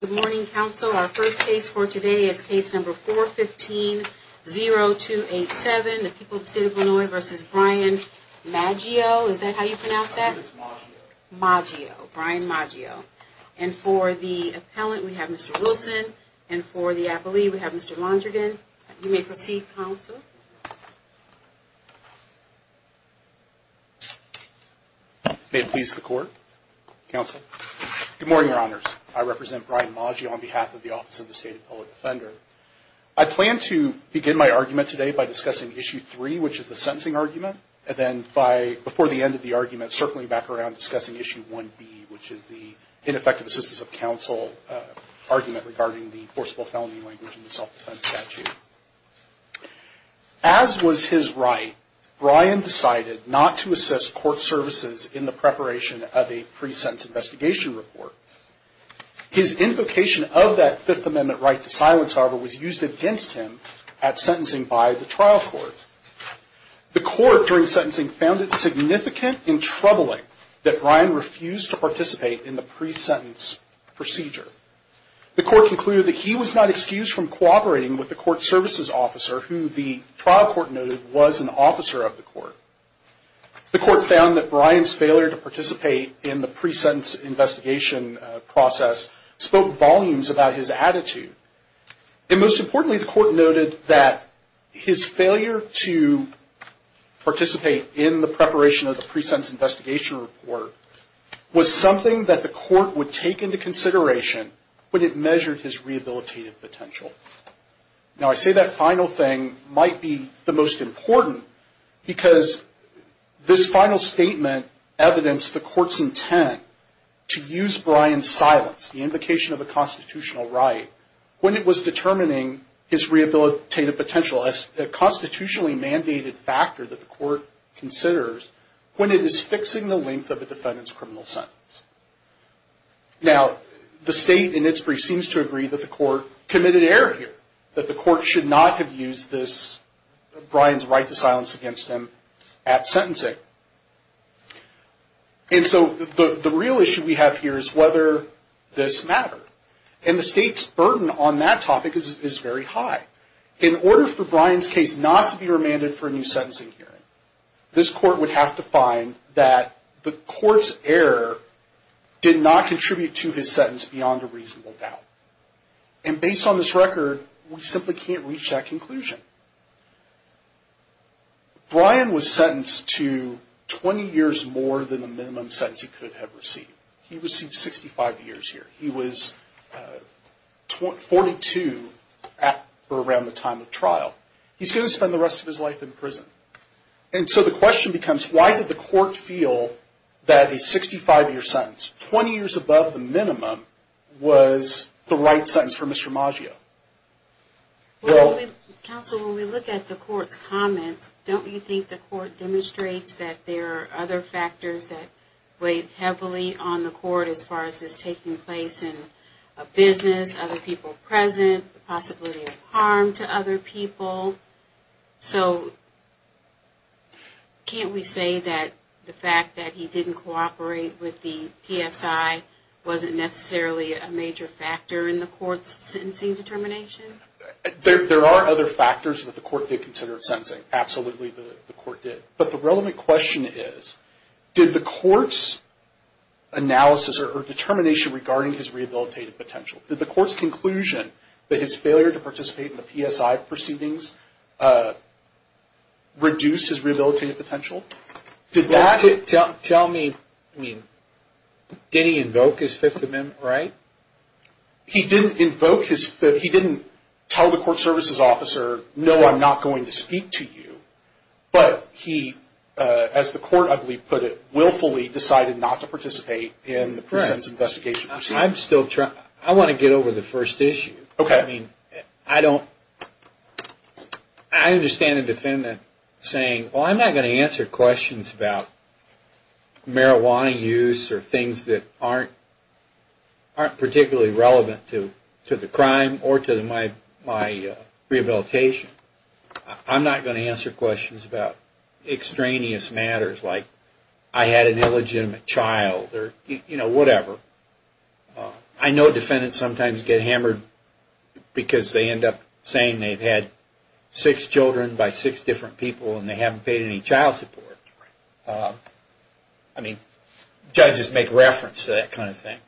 Good morning, counsel. Our first case for today is case number 415-0287. The people of the state of Illinois v. Brian Maggio. Is that how you pronounce that? My name is Maggio. Maggio. Brian Maggio. And for the appellant, we have Mr. Wilson. And for the appellee, we have Mr. Londrigan. You may proceed, counsel. May it please the Court. Counsel. Good morning, Your Honors. I represent Brian Maggio on behalf of the Office of the State Appellate Defender. I plan to begin my argument today by discussing Issue 3, which is the sentencing argument. And then before the end of the argument, circling back around discussing Issue 1B, which is the ineffective assistance of counsel argument regarding the enforceable felony language in the self-defense statute. As was his right, Brian decided not to assess court services in the preparation of a pre-sentence investigation report. His invocation of that Fifth Amendment right to silence, however, was used against him at sentencing by the trial court. The court, during sentencing, found it significant and troubling that Brian refused to participate in the pre-sentence procedure. The court concluded that he was not excused from cooperating with the court services officer, who the trial court noted was an officer of the court. The court found that Brian's failure to participate in the pre-sentence investigation process spoke volumes about his attitude. And most importantly, the court noted that his failure to participate in the preparation of the pre-sentence investigation report was something that the court would take into consideration when it measured his rehabilitative potential. Now, I say that final thing might be the most important, because this final statement evidenced the court's intent to use Brian's silence, the invocation of a constitutional right, when it was determining his rehabilitative potential as a constitutionally mandated factor that the court considers when it is fixing the length of a defendant's criminal sentence. Now, the state, in its brief, seems to agree that the court committed error here, that the court should not have used Brian's right to silence against him at sentencing. And so, the real issue we have here is whether this mattered. And the state's burden on that topic is very high. In order for Brian's case not to be remanded for a new sentencing hearing, this court would have to find that the court's error did not contribute to his sentence beyond a reasonable doubt. And based on this record, we simply can't reach that conclusion. Brian was sentenced to 20 years more than the minimum sentence he could have received. He received 65 years here. He was 42 for around the time of trial. He's going to spend the rest of his life in prison. And so, the question becomes, why did the court feel that a 65-year sentence, 20 years above the minimum, was the right sentence for Mr. Maggio? Well, counsel, when we look at the court's comments, don't you think the court demonstrates that there are other factors that weighed heavily on the court as far as this taking place? And a business, other people present, the possibility of harm to other people. So, can't we say that the fact that he didn't cooperate with the PSI wasn't necessarily a major factor in the court's sentencing determination? There are other factors that the court did consider in sentencing. Absolutely, the court did. But the relevant question is, did the court's analysis or determination regarding his rehabilitative potential, did the court's conclusion that his failure to participate in the PSI proceedings reduce his rehabilitative potential? Tell me, did he invoke his Fifth Amendment right? He didn't invoke his Fifth. He didn't tell the court services officer, no, I'm not going to speak to you. But he, as the court, I believe, put it, willfully decided not to participate in the prison's investigation proceedings. I'm still trying, I want to get over the first issue. Okay. I mean, I don't, I understand the defendant saying, well, I'm not going to answer questions about marijuana use or things that aren't particularly relevant to the crime or to my rehabilitation. I'm not going to answer questions about extraneous matters like I had an illegitimate child or, you know, whatever. I know defendants sometimes get hammered because they end up saying they've had six children by six different people and they haven't paid any child support. I mean, judges make reference to that kind of thing.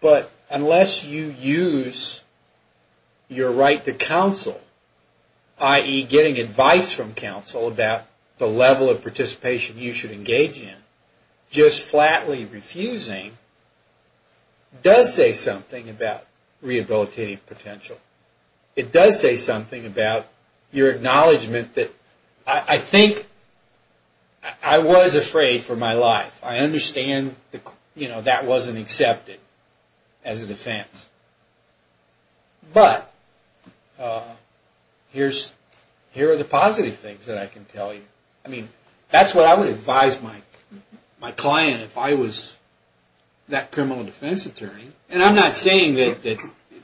But unless you use your right to counsel, i.e. getting advice from counsel about the level of participation you should engage in, just flatly refusing does say something about rehabilitative potential. It does say something about your acknowledgement that, I think, I was afraid for my life. I understand, you know, that wasn't accepted as a defense. But here are the positive things that I can tell you. I mean, that's what I would advise my client if I was that criminal defense attorney. And I'm not saying that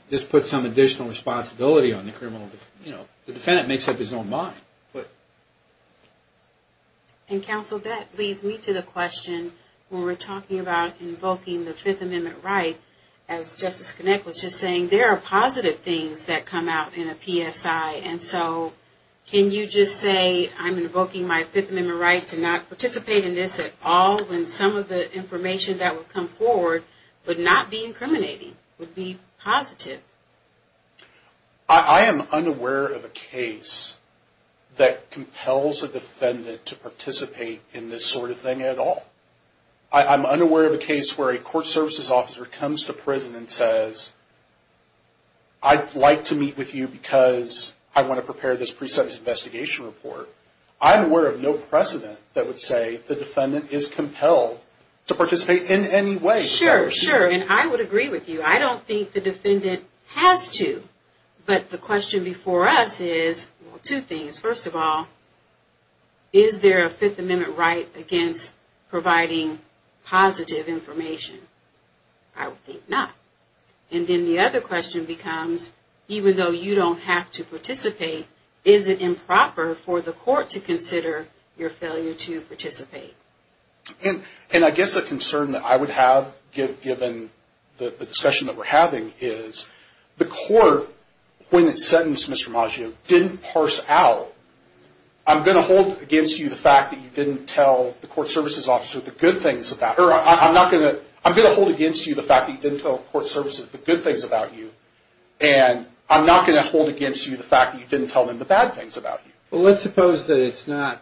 this puts some additional responsibility on the criminal, you know, the defendant makes up his own mind. And, counsel, that leads me to the question when we're talking about invoking the Fifth Amendment right, as Justice Kinnick was just saying, there are positive things that come out in a PSI. And so can you just say I'm invoking my Fifth Amendment right to not participate in this at all when some of the information that would come forward would not be incriminating, would be positive? I am unaware of a case that compels a defendant to participate in this sort of thing at all. I'm unaware of a case where a court services officer comes to prison and says, I'd like to meet with you because I want to prepare this pre-sentence investigation report. I'm aware of no precedent that would say the defendant is compelled to participate in any way. Sure, sure. And I would agree with you. I don't think the defendant has to. But the question before us is, well, two things. First of all, is there a Fifth Amendment right against providing positive information? I would think not. And then the other question becomes, even though you don't have to participate, is it improper for the court to consider your failure to participate? And I guess a concern that I would have, given the discussion that we're having, is the court, when it sentenced Mr. Maggio, didn't parse out, I'm going to hold against you the fact that you didn't tell the court services officer the good things about her. I'm going to hold against you the fact that you didn't tell court services the good things about you. And I'm not going to hold against you the fact that you didn't tell them the bad things about you. Well, let's suppose that it's not,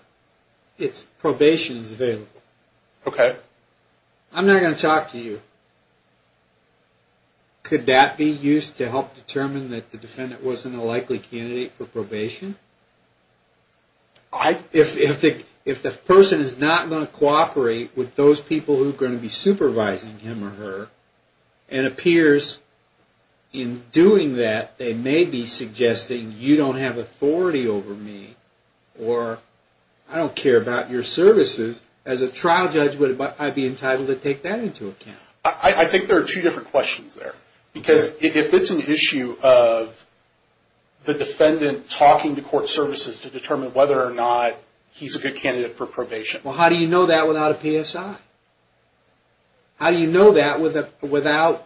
it's probation is available. Okay. I'm not going to talk to you. Could that be used to help determine that the defendant wasn't a likely candidate for probation? If the person is not going to cooperate with those people who are going to be supervising him or her, and appears in doing that, they may be suggesting you don't have authority over me, or I don't care about your services, as a trial judge, would I be entitled to take that into account? I think there are two different questions there. Because if it's an issue of the defendant talking to court services to determine whether or not he's a good candidate for probation. Well, how do you know that without a PSI? How do you know that without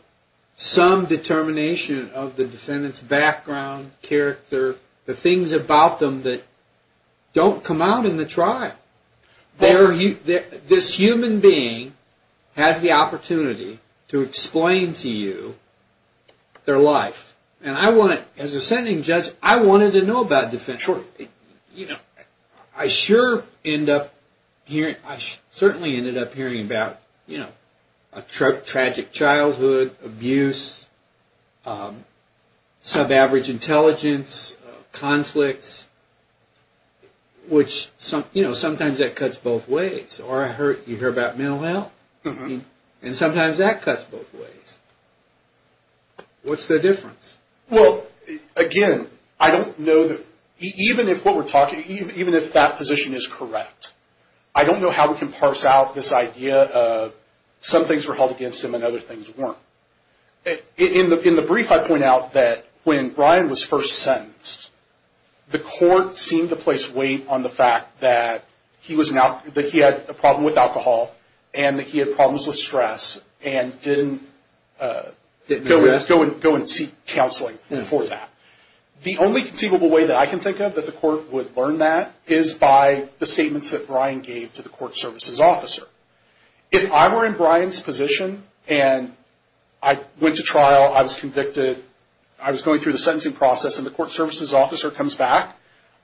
some determination of the defendant's background, character, the things about them that don't come out in the trial? This human being has the opportunity to explain to you their life. And as a sentencing judge, I wanted to know about defense. Sure. I sure ended up hearing about a tragic childhood, abuse, sub-average intelligence, conflicts, which sometimes that cuts both ways. Or you hear about mental health, and sometimes that cuts both ways. What's the difference? Well, again, I don't know that even if what we're talking, even if that position is correct, I don't know how we can parse out this idea of some things were held against him and other things weren't. In the brief, I point out that when Brian was first sentenced, the court seemed to place weight on the fact that he had a problem with alcohol, and that he had problems with stress, and didn't go and seek counseling for that. The only conceivable way that I can think of that the court would learn that is by the statements that Brian gave to the court services officer. If I were in Brian's position, and I went to trial, I was convicted, I was going through the sentencing process, and the court services officer comes back,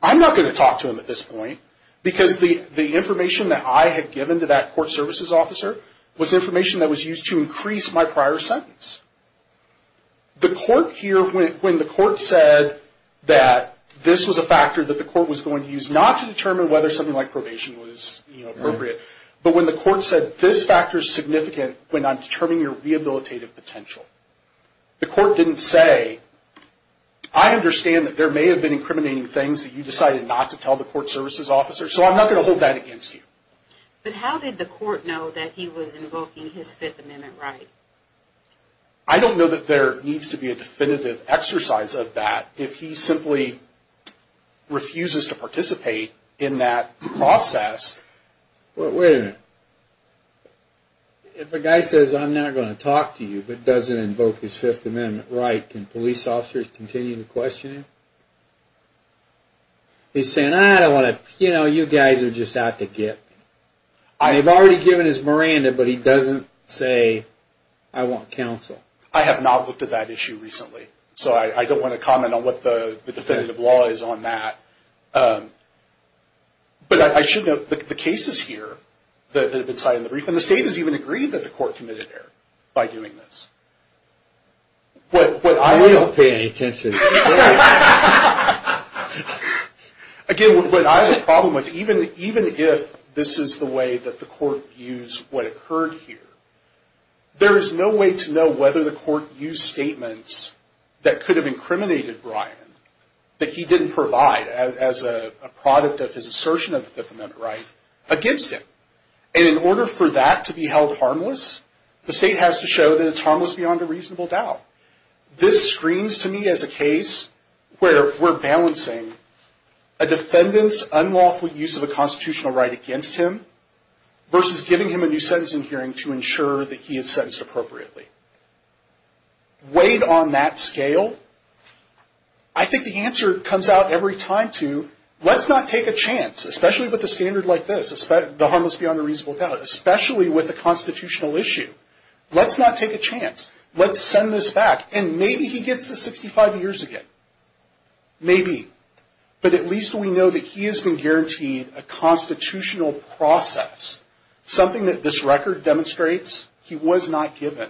I'm not going to talk to him at this point, because the information that I had given to that court services officer was information that was used to increase my prior sentence. The court here, when the court said that this was a factor that the court was going to use, not to determine whether something like probation was appropriate, but when the court said this factor is significant when I'm determining your rehabilitative potential, the court didn't say, I understand that there may have been incriminating things that you decided not to tell the court services officer, so I'm not going to hold that against you. But how did the court know that he was invoking his Fifth Amendment right? I don't know that there needs to be a definitive exercise of that. If he simply refuses to participate in that process... Wait a minute. If a guy says, I'm not going to talk to you, but doesn't invoke his Fifth Amendment right, can police officers continue to question him? He's saying, I don't want to, you know, you guys are just out to get me. They've already given his Miranda, but he doesn't say, I want counsel. I have not looked at that issue recently, so I don't want to comment on what the definitive law is on that. But I should note, the cases here that have been cited in the brief, and the state has even agreed that the court committed error by doing this. I don't pay any attention to this. Again, what I have a problem with, even if this is the way that the court views what occurred here, there is no way to know whether the court used statements that could have incriminated Brian, that he didn't provide as a product of his assertion of the Fifth Amendment right, against him. And in order for that to be held harmless, the state has to show that it's harmless beyond a reasonable doubt. This screens to me as a case where we're balancing a defendant's unlawful use of a constitutional right against him, versus giving him a new sentencing hearing to ensure that he is sentenced appropriately. Weighed on that scale, I think the answer comes out every time to, let's not take a chance, especially with a standard like this, the harmless beyond a reasonable doubt, especially with a constitutional issue. Let's not take a chance. Let's send this back. And maybe he gets the 65 years again. Maybe. But at least we know that he has been guaranteed a constitutional process, something that this record demonstrates he was not given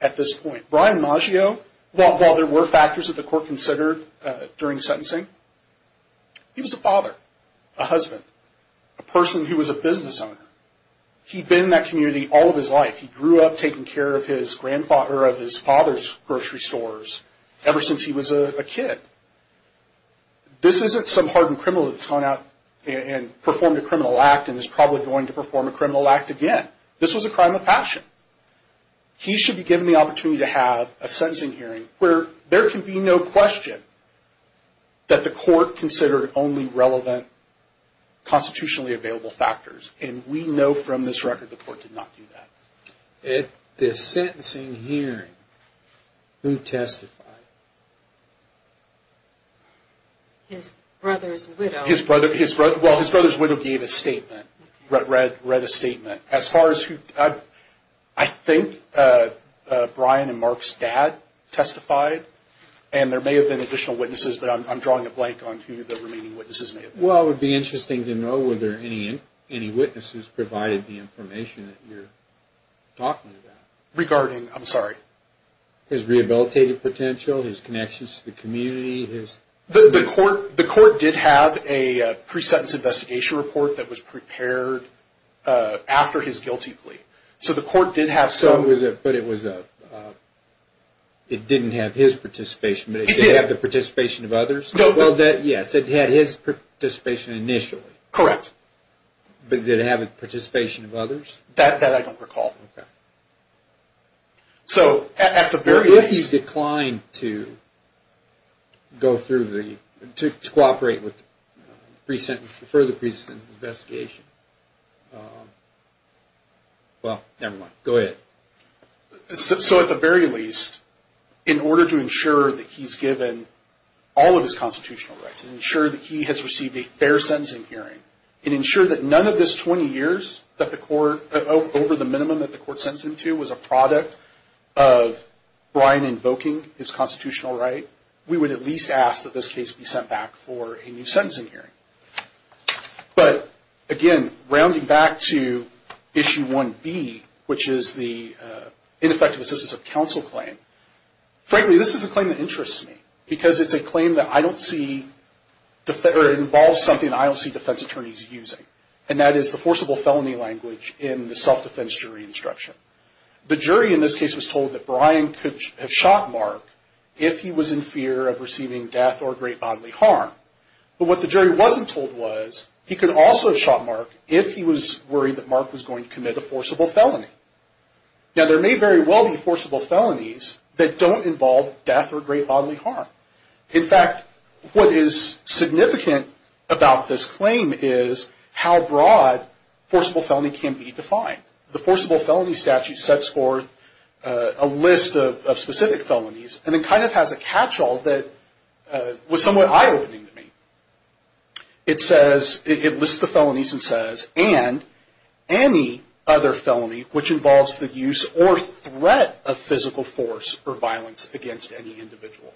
at this point. Brian Maggio, while there were factors that the court considered during sentencing, he was a father, a husband, a person who was a business owner. He'd been in that community all of his life. He grew up taking care of his father's grocery stores ever since he was a kid. This isn't some hardened criminal that's gone out and performed a criminal act and is probably going to perform a criminal act again. This was a crime of passion. He should be given the opportunity to have a sentencing hearing where there can be no question that the court considered only relevant constitutionally available factors. And we know from this record the court did not do that. At this sentencing hearing, who testified? His brother's widow. Well, his brother's widow gave a statement, read a statement. I think Brian and Mark's dad testified. And there may have been additional witnesses, but I'm drawing a blank on who the remaining witnesses may have been. Well, it would be interesting to know whether any witnesses provided the information that you're talking about. Regarding, I'm sorry? His rehabilitative potential, his connections to the community. The court did have a pre-sentence investigation report that was prepared after his guilty plea. So the court did have some. But it didn't have his participation, but it did have the participation of others? Yes, it had his participation initially. Correct. But did it have the participation of others? That I don't recall. So at the very least. What if he's declined to cooperate with further pre-sentence investigation? Well, never mind. Go ahead. So at the very least, in order to ensure that he's given all of his constitutional rights, ensure that he has received a fair sentencing hearing, and ensure that none of this 20 years that the court, over the minimum that the court sentenced him to, was a product of Brian invoking his constitutional right, we would at least ask that this case be sent back for a new sentencing hearing. But again, rounding back to Issue 1B, which is the ineffective assistance of counsel claim, frankly, this is a claim that interests me. Because it's a claim that I don't see, or involves something I don't see defense attorneys using. And that is the forcible felony language in the self-defense jury instruction. The jury in this case was told that Brian could have shot Mark if he was in fear of receiving death or great bodily harm. But what the jury wasn't told was, he could also have shot Mark if he was worried that Mark was going to commit a forcible felony. Now, there may very well be forcible felonies that don't involve death or great bodily harm. In fact, what is significant about this claim is how broad forcible felony can be defined. The forcible felony statute sets forth a list of specific felonies and then kind of has a catch-all that was somewhat eye-opening to me. It says, it lists the felonies and says, and any other felony which involves the use or threat of physical force or violence against any individual.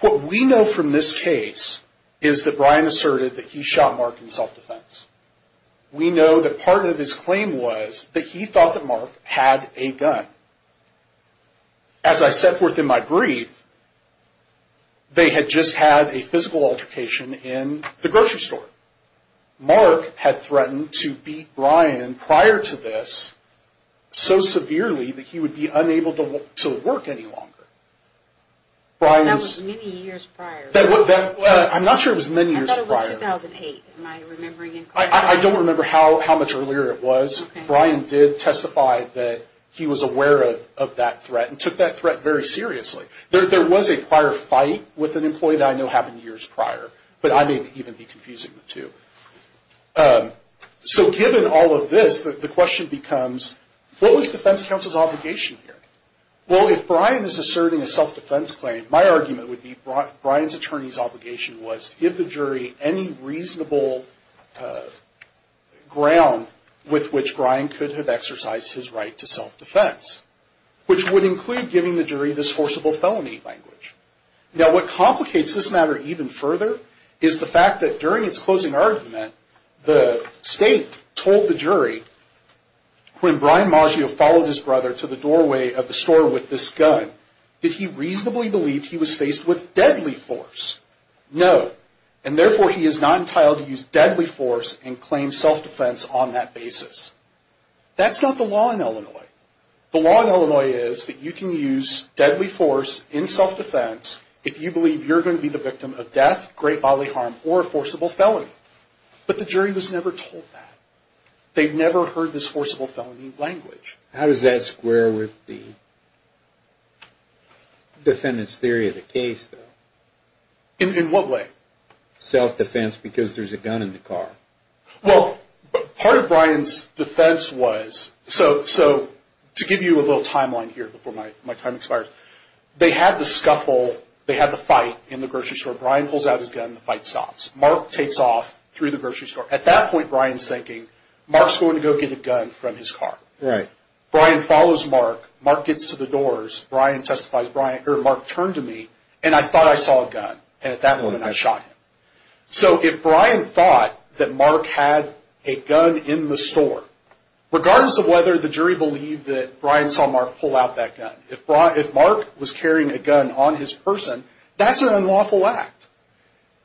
What we know from this case is that Brian asserted that he shot Mark in self-defense. We know that part of his claim was that he thought that Mark had a gun. As I set forth in my brief, they had just had a physical altercation in the grocery store. Mark had threatened to beat Brian prior to this so severely that he would be unable to work any longer. That was many years prior. I'm not sure it was many years prior. I thought it was 2008. Am I remembering incorrectly? I don't remember how much earlier it was. Brian did testify that he was aware of that threat and took that threat very seriously. There was a prior fight with an employee that I know happened years prior, but I may even be confusing the two. Given all of this, the question becomes, what was defense counsel's obligation here? If Brian is asserting a self-defense claim, my argument would be Brian's attorney's obligation was to give the jury any reasonable ground with which Brian could have exercised his right to self-defense, which would include giving the jury this forcible felony language. What complicates this matter even further is the fact that during its closing argument, the state told the jury, when Brian Maggio followed his brother to the doorway of the store with this gun, did he reasonably believe he was faced with deadly force? No, and therefore he is not entitled to use deadly force and claim self-defense on that basis. That's not the law in Illinois. The law in Illinois is that you can use deadly force in self-defense if you believe you're going to be the victim of death, great bodily harm, or a forcible felony. But the jury was never told that. They never heard this forcible felony language. How does that square with the defendant's theory of the case, though? In what way? Self-defense because there's a gun in the car. Well, part of Brian's defense was, so to give you a little timeline here before my time expires, they had the scuffle, they had the fight in the grocery store. Brian pulls out his gun, the fight stops. Mark takes off through the grocery store. At that point, Brian's thinking, Mark's going to go get a gun from his car. Right. Brian follows Mark. Mark gets to the doors. Mark turned to me, and I thought I saw a gun. And at that moment, I shot him. So if Brian thought that Mark had a gun in the store, regardless of whether the jury believed that Brian saw Mark pull out that gun, if Mark was carrying a gun on his person, that's an unlawful act.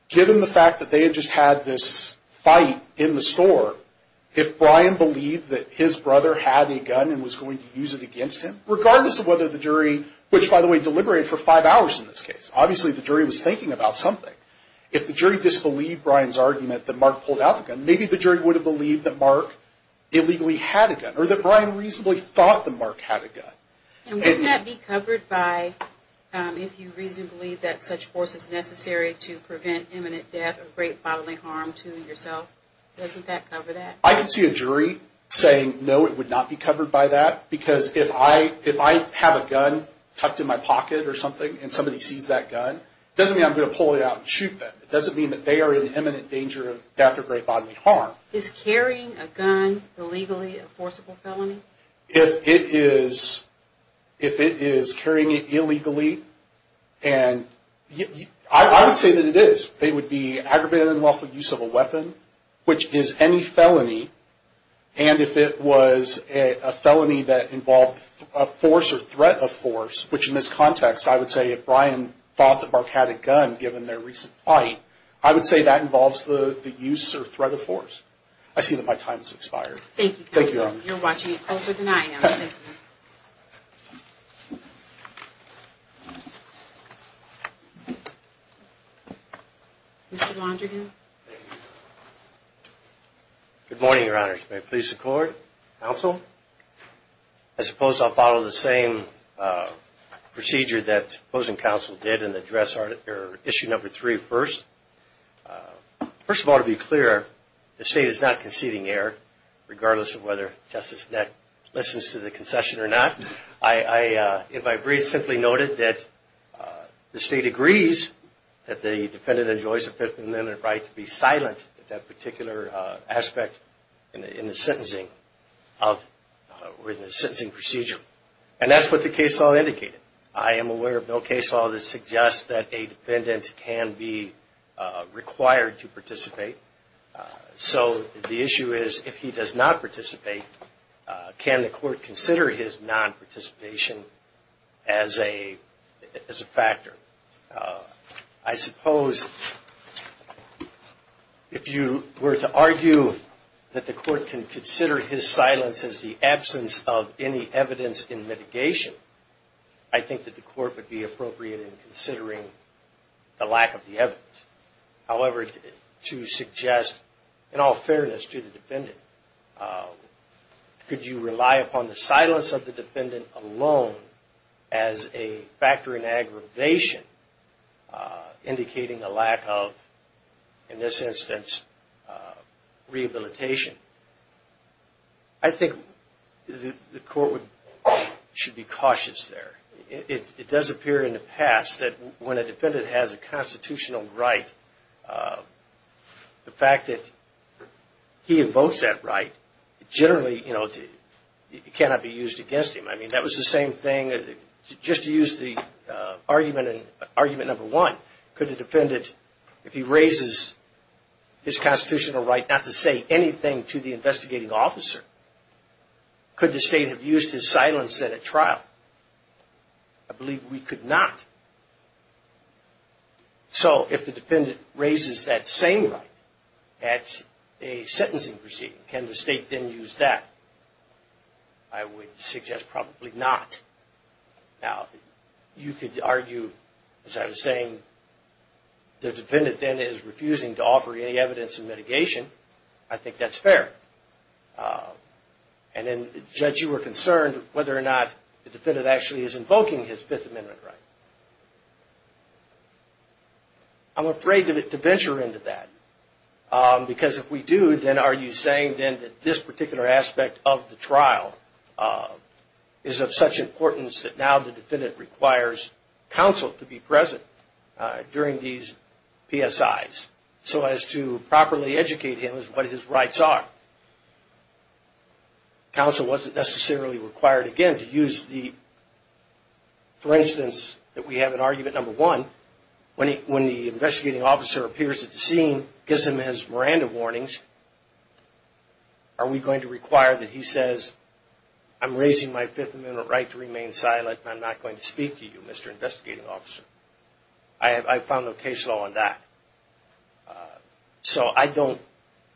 Given the fact that they had just had this fight in the store, if Brian believed that his brother had a gun and was going to use it against him, regardless of whether the jury, which, by the way, deliberated for five hours in this case. Obviously, the jury was thinking about something. If the jury disbelieved Brian's argument that Mark pulled out the gun, maybe the jury would have believed that Mark illegally had a gun or that Brian reasonably thought that Mark had a gun. And wouldn't that be covered by if you reasonably believe that such force is necessary to prevent imminent death or great bodily harm to yourself? Doesn't that cover that? I can see a jury saying no, it would not be covered by that. Because if I have a gun tucked in my pocket or something, and somebody sees that gun, it doesn't mean I'm going to pull it out and shoot them. It doesn't mean that they are in imminent danger of death or great bodily harm. Is carrying a gun illegally a forcible felony? If it is carrying it illegally, and I would say that it is. It would be aggravated and unlawful use of a weapon, which is any felony. And if it was a felony that involved a force or threat of force, which in this context, I would say if Brian thought that Mark had a gun given their recent fight, I would say that involves the use or threat of force. I see that my time has expired. Thank you. Thank you. You're watching it closer than I am. Thank you. Mr. Mondragon. Good morning, Your Honors. May it please the Court, Counsel. I suppose I'll follow the same procedure that opposing counsel did and address issue number three first. First of all, to be clear, the State is not conceding error, regardless of whether Justice Nett listens to the concession or not. I, in my brief, simply noted that the State agrees that the defendant enjoys the right to be silent at that particular aspect in the sentencing procedure. And that's what the case law indicated. I am aware of no case law that suggests that a defendant can be required to participate. So the issue is if he does not participate, can the Court consider his non-participation as a factor? I suppose if you were to argue that the Court can consider his silence as the absence of any evidence in mitigation, I think that the Court would be appropriate in considering the lack of the evidence. However, to suggest, in all fairness to the defendant, could you rely upon the silence of the defendant alone as a factor in aggravation, indicating a lack of, in this instance, rehabilitation? I think the Court should be cautious there. It does appear in the past that when a defendant has a constitutional right, the fact that he invokes that right generally cannot be used against him. I mean, that was the same thing. Just to use the argument number one, could the defendant, if he raises his constitutional right not to say anything to the investigating officer, could the State have used his silence at a trial? I believe we could not. So if the defendant raises that same right at a sentencing proceeding, can the State then use that? I would suggest probably not. Now, you could argue, as I was saying, the defendant then is refusing to offer any evidence in mitigation. I think that's fair. And then, Judge, you were concerned whether or not the defendant actually is invoking his Fifth Amendment right. I'm afraid to venture into that because if we do, then are you saying then that this particular aspect of the trial is of such importance that now the defendant requires counsel to be present during these PSIs so as to properly educate him as to what his rights are? Counsel wasn't necessarily required again to use the, for instance, that we have in argument number one, when the investigating officer appears at the scene, gives him his Miranda warnings, are we going to require that he says, I'm raising my Fifth Amendment right to remain silent and I'm not going to speak to you, Mr. Investigating Officer? I found no case law on that. So I don't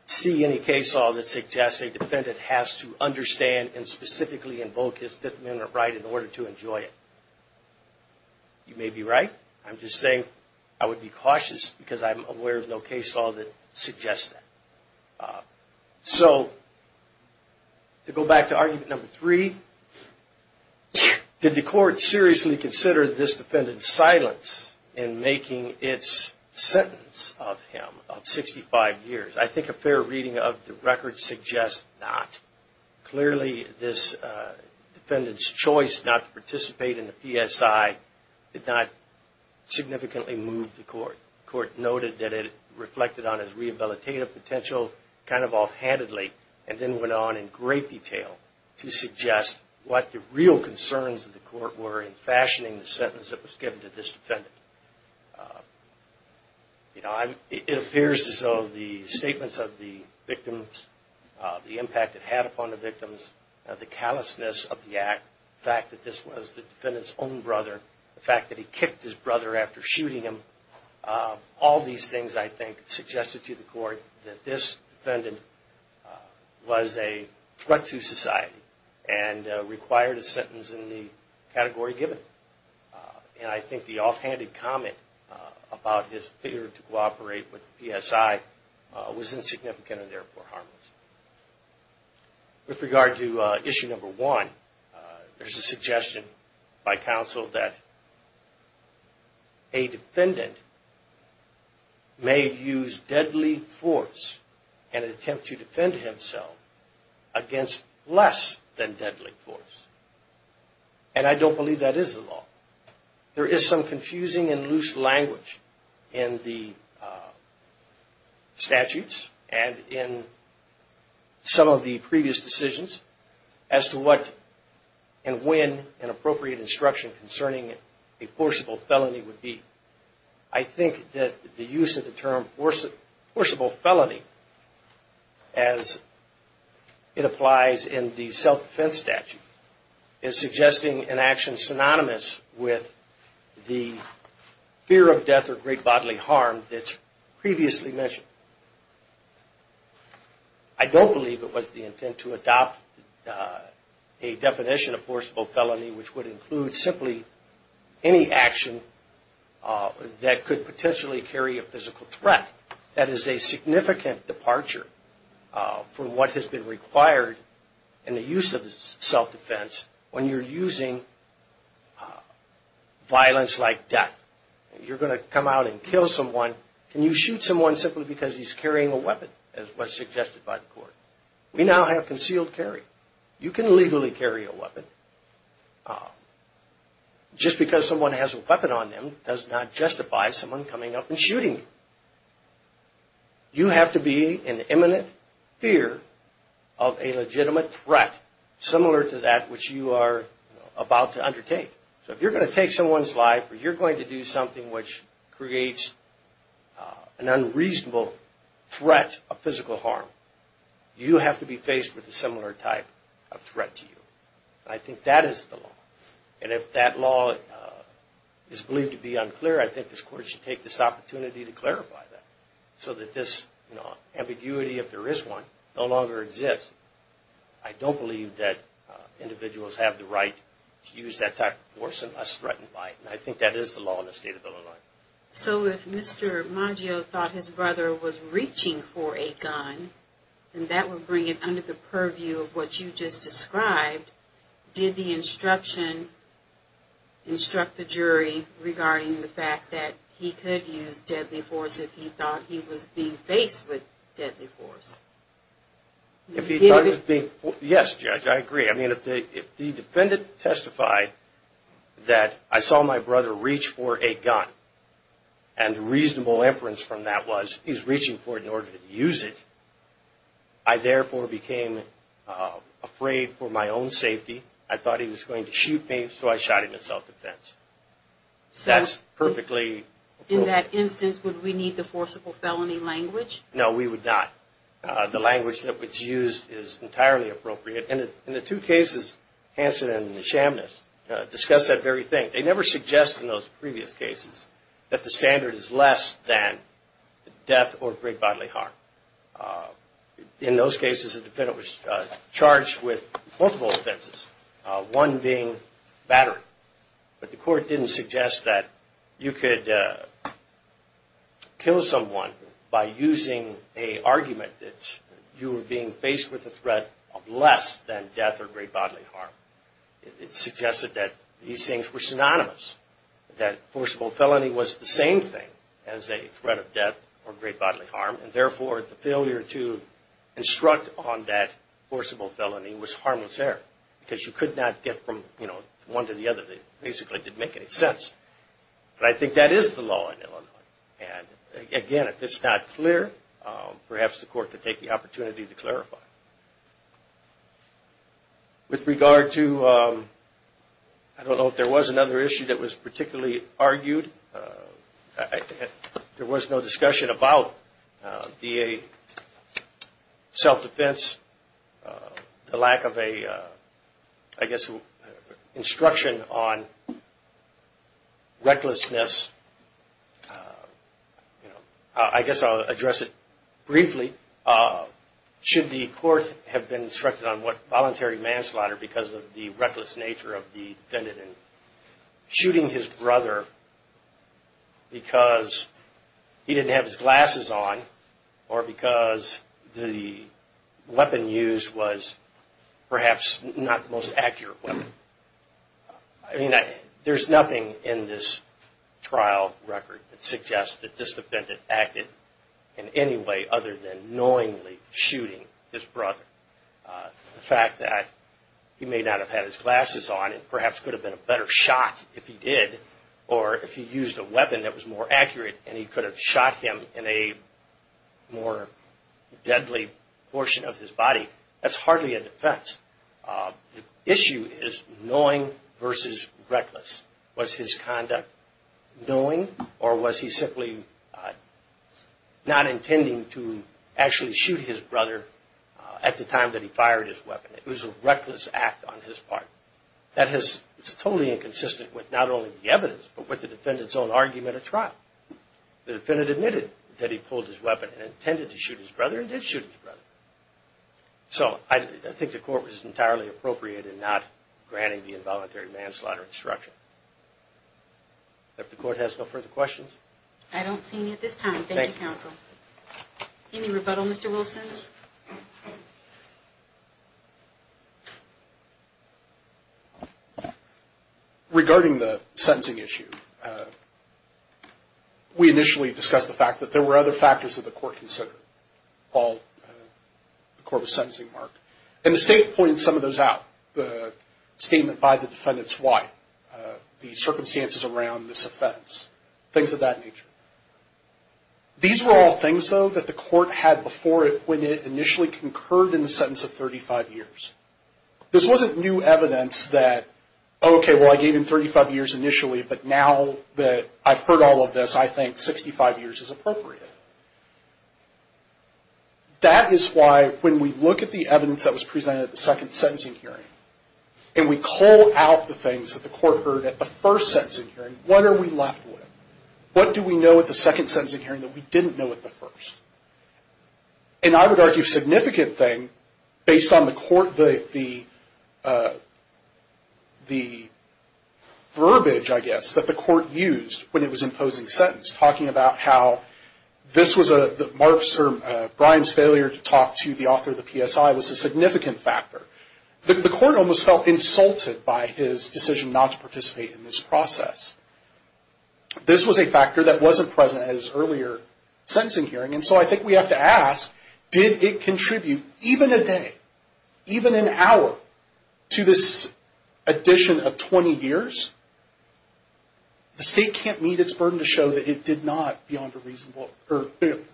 see any case law that suggests a defendant has to understand and specifically invoke his Fifth Amendment right in order to enjoy it. You may be right. I'm just saying I would be cautious because I'm aware of no case law that suggests that. So to go back to argument number three, did the court seriously consider this defendant's silence in making its sentence of him of 65 years? I think a fair reading of the record suggests not. Clearly this defendant's choice not to participate in the PSI did not significantly move the court. The court noted that it reflected on his rehabilitative potential kind of offhandedly and then went on in great detail to suggest what the real concerns of the court were in fashioning the sentence that was given to this defendant. It appears as though the statements of the victims, the impact it had upon the victims, the callousness of the act, the fact that this was the defendant's own brother, the fact that he kicked his brother after shooting him, all these things I think suggested to the court that this defendant was a threat to society and required a sentence in the category given. And I think the offhanded comment about his fear to cooperate with the PSI was insignificant and therefore harmless. With regard to issue number one, there's a suggestion by counsel that a defendant may use deadly force in an attempt to defend himself against less than deadly force. And I don't believe that is the law. There is some confusing and loose language in the statutes and in some of the previous decisions as to what and when an appropriate instruction concerning a forcible felony would be. I think that the use of the term forcible felony, as it applies in the self-defense statute, is suggesting an action synonymous with the fear of death or great bodily harm that's previously mentioned. I don't believe it was the intent to adopt a definition of forcible felony which would include simply any action that could potentially carry a physical threat. That is a significant departure from what has been required in the use of self-defense when you're using violence like death. You're going to come out and kill someone. Can you shoot someone simply because he's carrying a weapon as was suggested by the court? We now have concealed carry. You can legally carry a weapon. Just because someone has a weapon on them does not justify someone coming up and shooting you. You have to be in imminent fear of a legitimate threat similar to that which you are about to undertake. If you're going to take someone's life or you're going to do something which creates an unreasonable threat of physical harm, you have to be faced with a similar type of threat to you. I think that is the law. If that law is believed to be unclear, I think this Court should take this opportunity to clarify that so that this ambiguity, if there is one, no longer exists. I don't believe that individuals have the right to use that type of force unless threatened by it. I think that is the law in the state of Illinois. If Mr. Maggio thought his brother was reaching for a gun, and that would bring it under the purview of what you just described, did the instruction instruct the jury regarding the fact that he could use deadly force if he thought he was being faced with deadly force? Yes, Judge, I agree. I mean, if the defendant testified that I saw my brother reach for a gun and the reasonable inference from that was he's reaching for it in order to use it, I therefore became afraid for my own safety. I thought he was going to shoot me, so I shot him in self-defense. That's perfectly... In that instance, would we need the forcible felony language? No, we would not. The language that was used is entirely appropriate. In the two cases, Hanson and Shamnitz discuss that very thing. They never suggest in those previous cases that the standard is less than death or great bodily harm. In those cases, the defendant was charged with multiple offenses, one being battery. But the court didn't suggest that you could kill someone by using an argument that you were being faced with a threat of less than death or great bodily harm. It suggested that these things were synonymous, that forcible felony was the same thing as a threat of death or great bodily harm, and therefore the failure to instruct on that forcible felony was harmless there because you could not get from one to the other. It basically didn't make any sense. But I think that is the law in Illinois. Again, if it's not clear, perhaps the court could take the opportunity to clarify. With regard to... I don't know if there was another issue that was particularly argued. There was no discussion about the self-defense, the lack of a, I guess, instruction on recklessness. I guess I'll address it briefly. Should the court have been instructed on what voluntary manslaughter because of the reckless nature of the defendant in shooting his brother because he didn't have his glasses on or because the weapon used was perhaps not the most accurate weapon? There's nothing in this trial record that suggests that this defendant acted in any way other than knowingly shooting his brother. The fact that he may not have had his glasses on and perhaps could have been a better shot if he did or if he used a weapon that was more accurate and he could have shot him in a more deadly portion of his body, that's hardly a defense. The issue is knowing versus reckless. Was his conduct knowing or was he simply not intending to actually shoot his brother at the time that he fired his weapon? It was a reckless act on his part. That is totally inconsistent with not only the evidence but with the defendant's own argument at trial. The defendant admitted that he pulled his weapon and intended to shoot his brother and did shoot his brother. So I think the court was entirely appropriate in not granting the involuntary manslaughter instruction. If the court has no further questions. I don't see any at this time. Thank you, counsel. Any rebuttal, Mr. Wilson? Regarding the sentencing issue, we initially discussed the fact that there were other factors that the court considered. Paul, the court was sentencing Mark. And the state pointed some of those out. The statement by the defendant's wife. The circumstances around this offense. Things of that nature. These were all things, though, that the court had before it when it initially concurred in the sentence of 35 years. This wasn't new evidence that, okay, well, I gave him 35 years initially but now that I've heard all of this, I think 65 years is appropriate. That is why when we look at the evidence that was presented at the second sentencing hearing, and we call out the things that the court heard at the first sentencing hearing, what are we left with? What do we know at the second sentencing hearing that we didn't know at the first? And I would argue a significant thing based on the court, the verbiage, I guess, that the court used when it was imposing sentence. Talking about how this was Mark's or Brian's failure to talk to the author of the PSI was a significant factor. The court almost felt insulted by his decision not to participate in this process. This was a factor that wasn't present at his earlier sentencing hearing. And so I think we have to ask, did it contribute even a day, even an hour, to this addition of 20 years? The state can't meet its burden to show that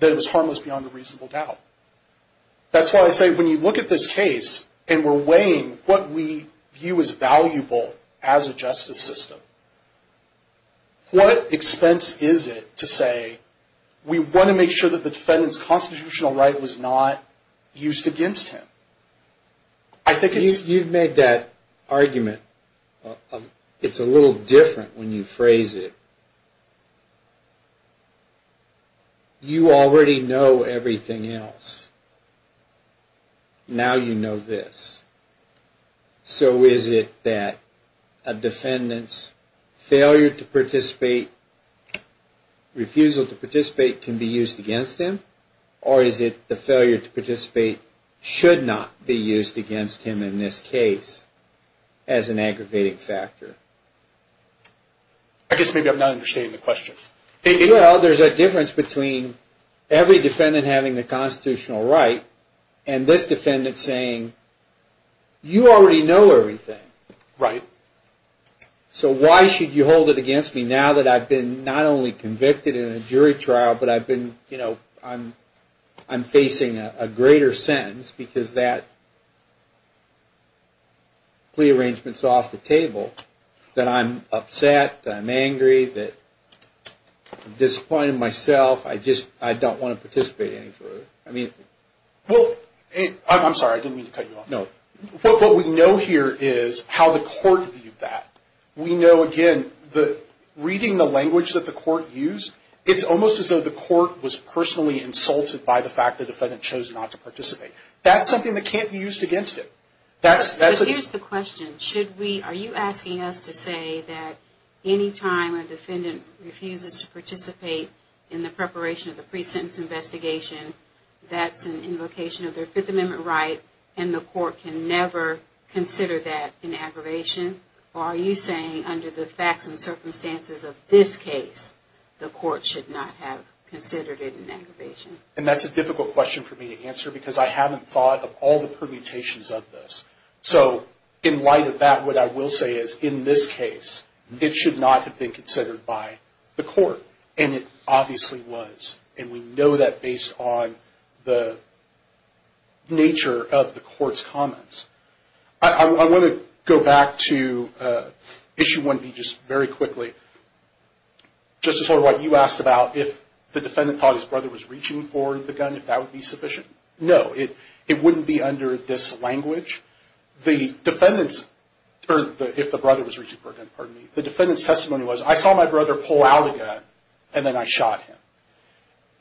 it was harmless beyond a reasonable doubt. That's why I say when you look at this case and we're weighing what we view as valuable as a justice system, what expense is it to say we want to make sure that the defendant's constitutional right was not used against him? You've made that argument. It's a little different when you phrase it. You already know everything else. Now you know this. So is it that a defendant's failure to participate, refusal to participate can be used against him? Or is it the failure to participate should not be used against him in this case as an aggravating factor? I guess maybe I'm not understanding the question. Well, there's a difference between every defendant having the constitutional right and this defendant saying, you already know everything. So why should you hold it against me now that I've been not only convicted in a jury trial, but I'm facing a greater sentence because that plea arrangement's off the table, that I'm upset, that I'm angry, that I'm disappointed in myself. I just don't want to participate any further. Well, I'm sorry. I didn't mean to cut you off. No. What we know here is how the court viewed that. We know, again, reading the language that the court used, it's almost as though the court was personally insulted by the fact the defendant chose not to participate. That's something that can't be used against him. But here's the question. Are you asking us to say that any time a defendant refuses to participate in the preparation of the pre-sentence investigation, that's an invocation of their Fifth Amendment right, and the court can never consider that an aggravation? Or are you saying under the facts and circumstances of this case, the court should not have considered it an aggravation? And that's a difficult question for me to answer because I haven't thought of all the permutations of this. So in light of that, what I will say is, in this case, it should not have been considered by the court. And it obviously was. And we know that based on the nature of the court's comments. I want to go back to Issue 1B just very quickly. Justice Holderwhite, you asked about if the defendant thought his brother was reaching for the gun, if that would be sufficient. No, it wouldn't be under this language. The defendant's, or if the brother was reaching for a gun, pardon me, the defendant's testimony was, I saw my brother pull out a gun, and then I shot him.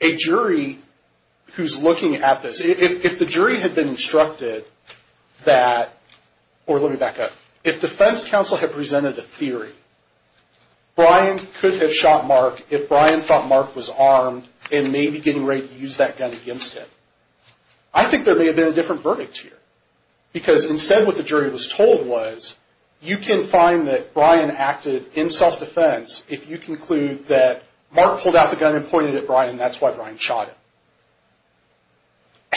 A jury who's looking at this, if the jury had been instructed that, or let me back up, if defense counsel had presented a theory, Brian could have shot Mark if Brian thought Mark was armed and maybe getting ready to use that gun against him. I think there may have been a different verdict here. Because instead, what the jury was told was, you can find that Brian acted in self-defense if you conclude that Mark pulled out the gun and pointed it at Brian, and that's why Brian shot him.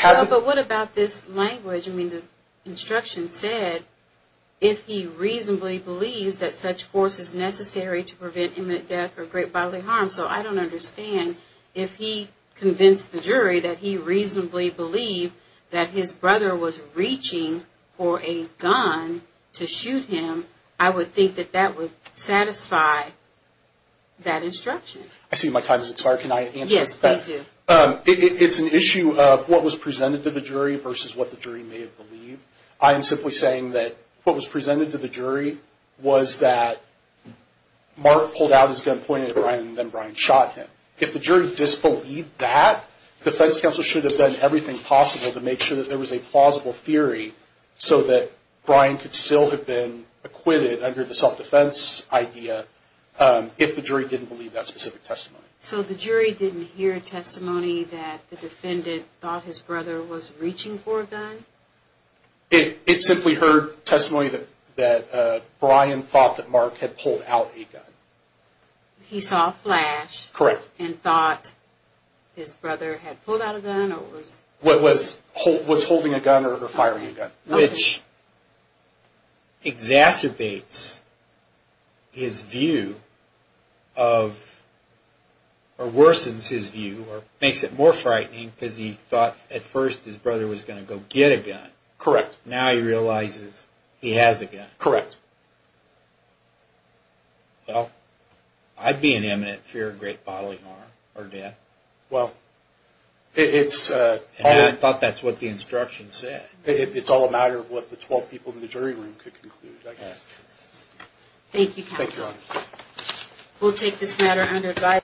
But what about this language? I mean, the instruction said, if he reasonably believes that such force is necessary to prevent imminent death or great bodily harm. So I don't understand if he convinced the jury that he reasonably believed that his brother was reaching for a gun to shoot him, I would think that that would satisfy that instruction. I see my time has expired. Can I answer? Yes, please do. It's an issue of what was presented to the jury versus what the jury may have believed. I am simply saying that what was presented to the jury was that Mark pulled out his gun, pointed it at Brian, and then Brian shot him. If the jury disbelieved that, defense counsel should have done everything possible to make sure that there was a plausible theory so that Brian could still have been acquitted under the self-defense idea if the jury didn't believe that specific testimony. So the jury didn't hear testimony that the defendant thought his brother was reaching for a gun? It simply heard testimony that Brian thought that Mark had pulled out a gun. He saw a flash and thought his brother had pulled out a gun? Was holding a gun or firing a gun. Which exacerbates his view, or worsens his view, or makes it more frightening because he thought at first his brother was going to go get a gun. Correct. Now he realizes he has a gun. Correct. Well, I'd be in imminent fear of great bodily harm or death. Well, it's... And I thought that's what the instruction said. It's all a matter of what the 12 people in the jury room could conclude, I guess. Thank you, counsel. Thanks, Ron. We'll take this matter under advisory.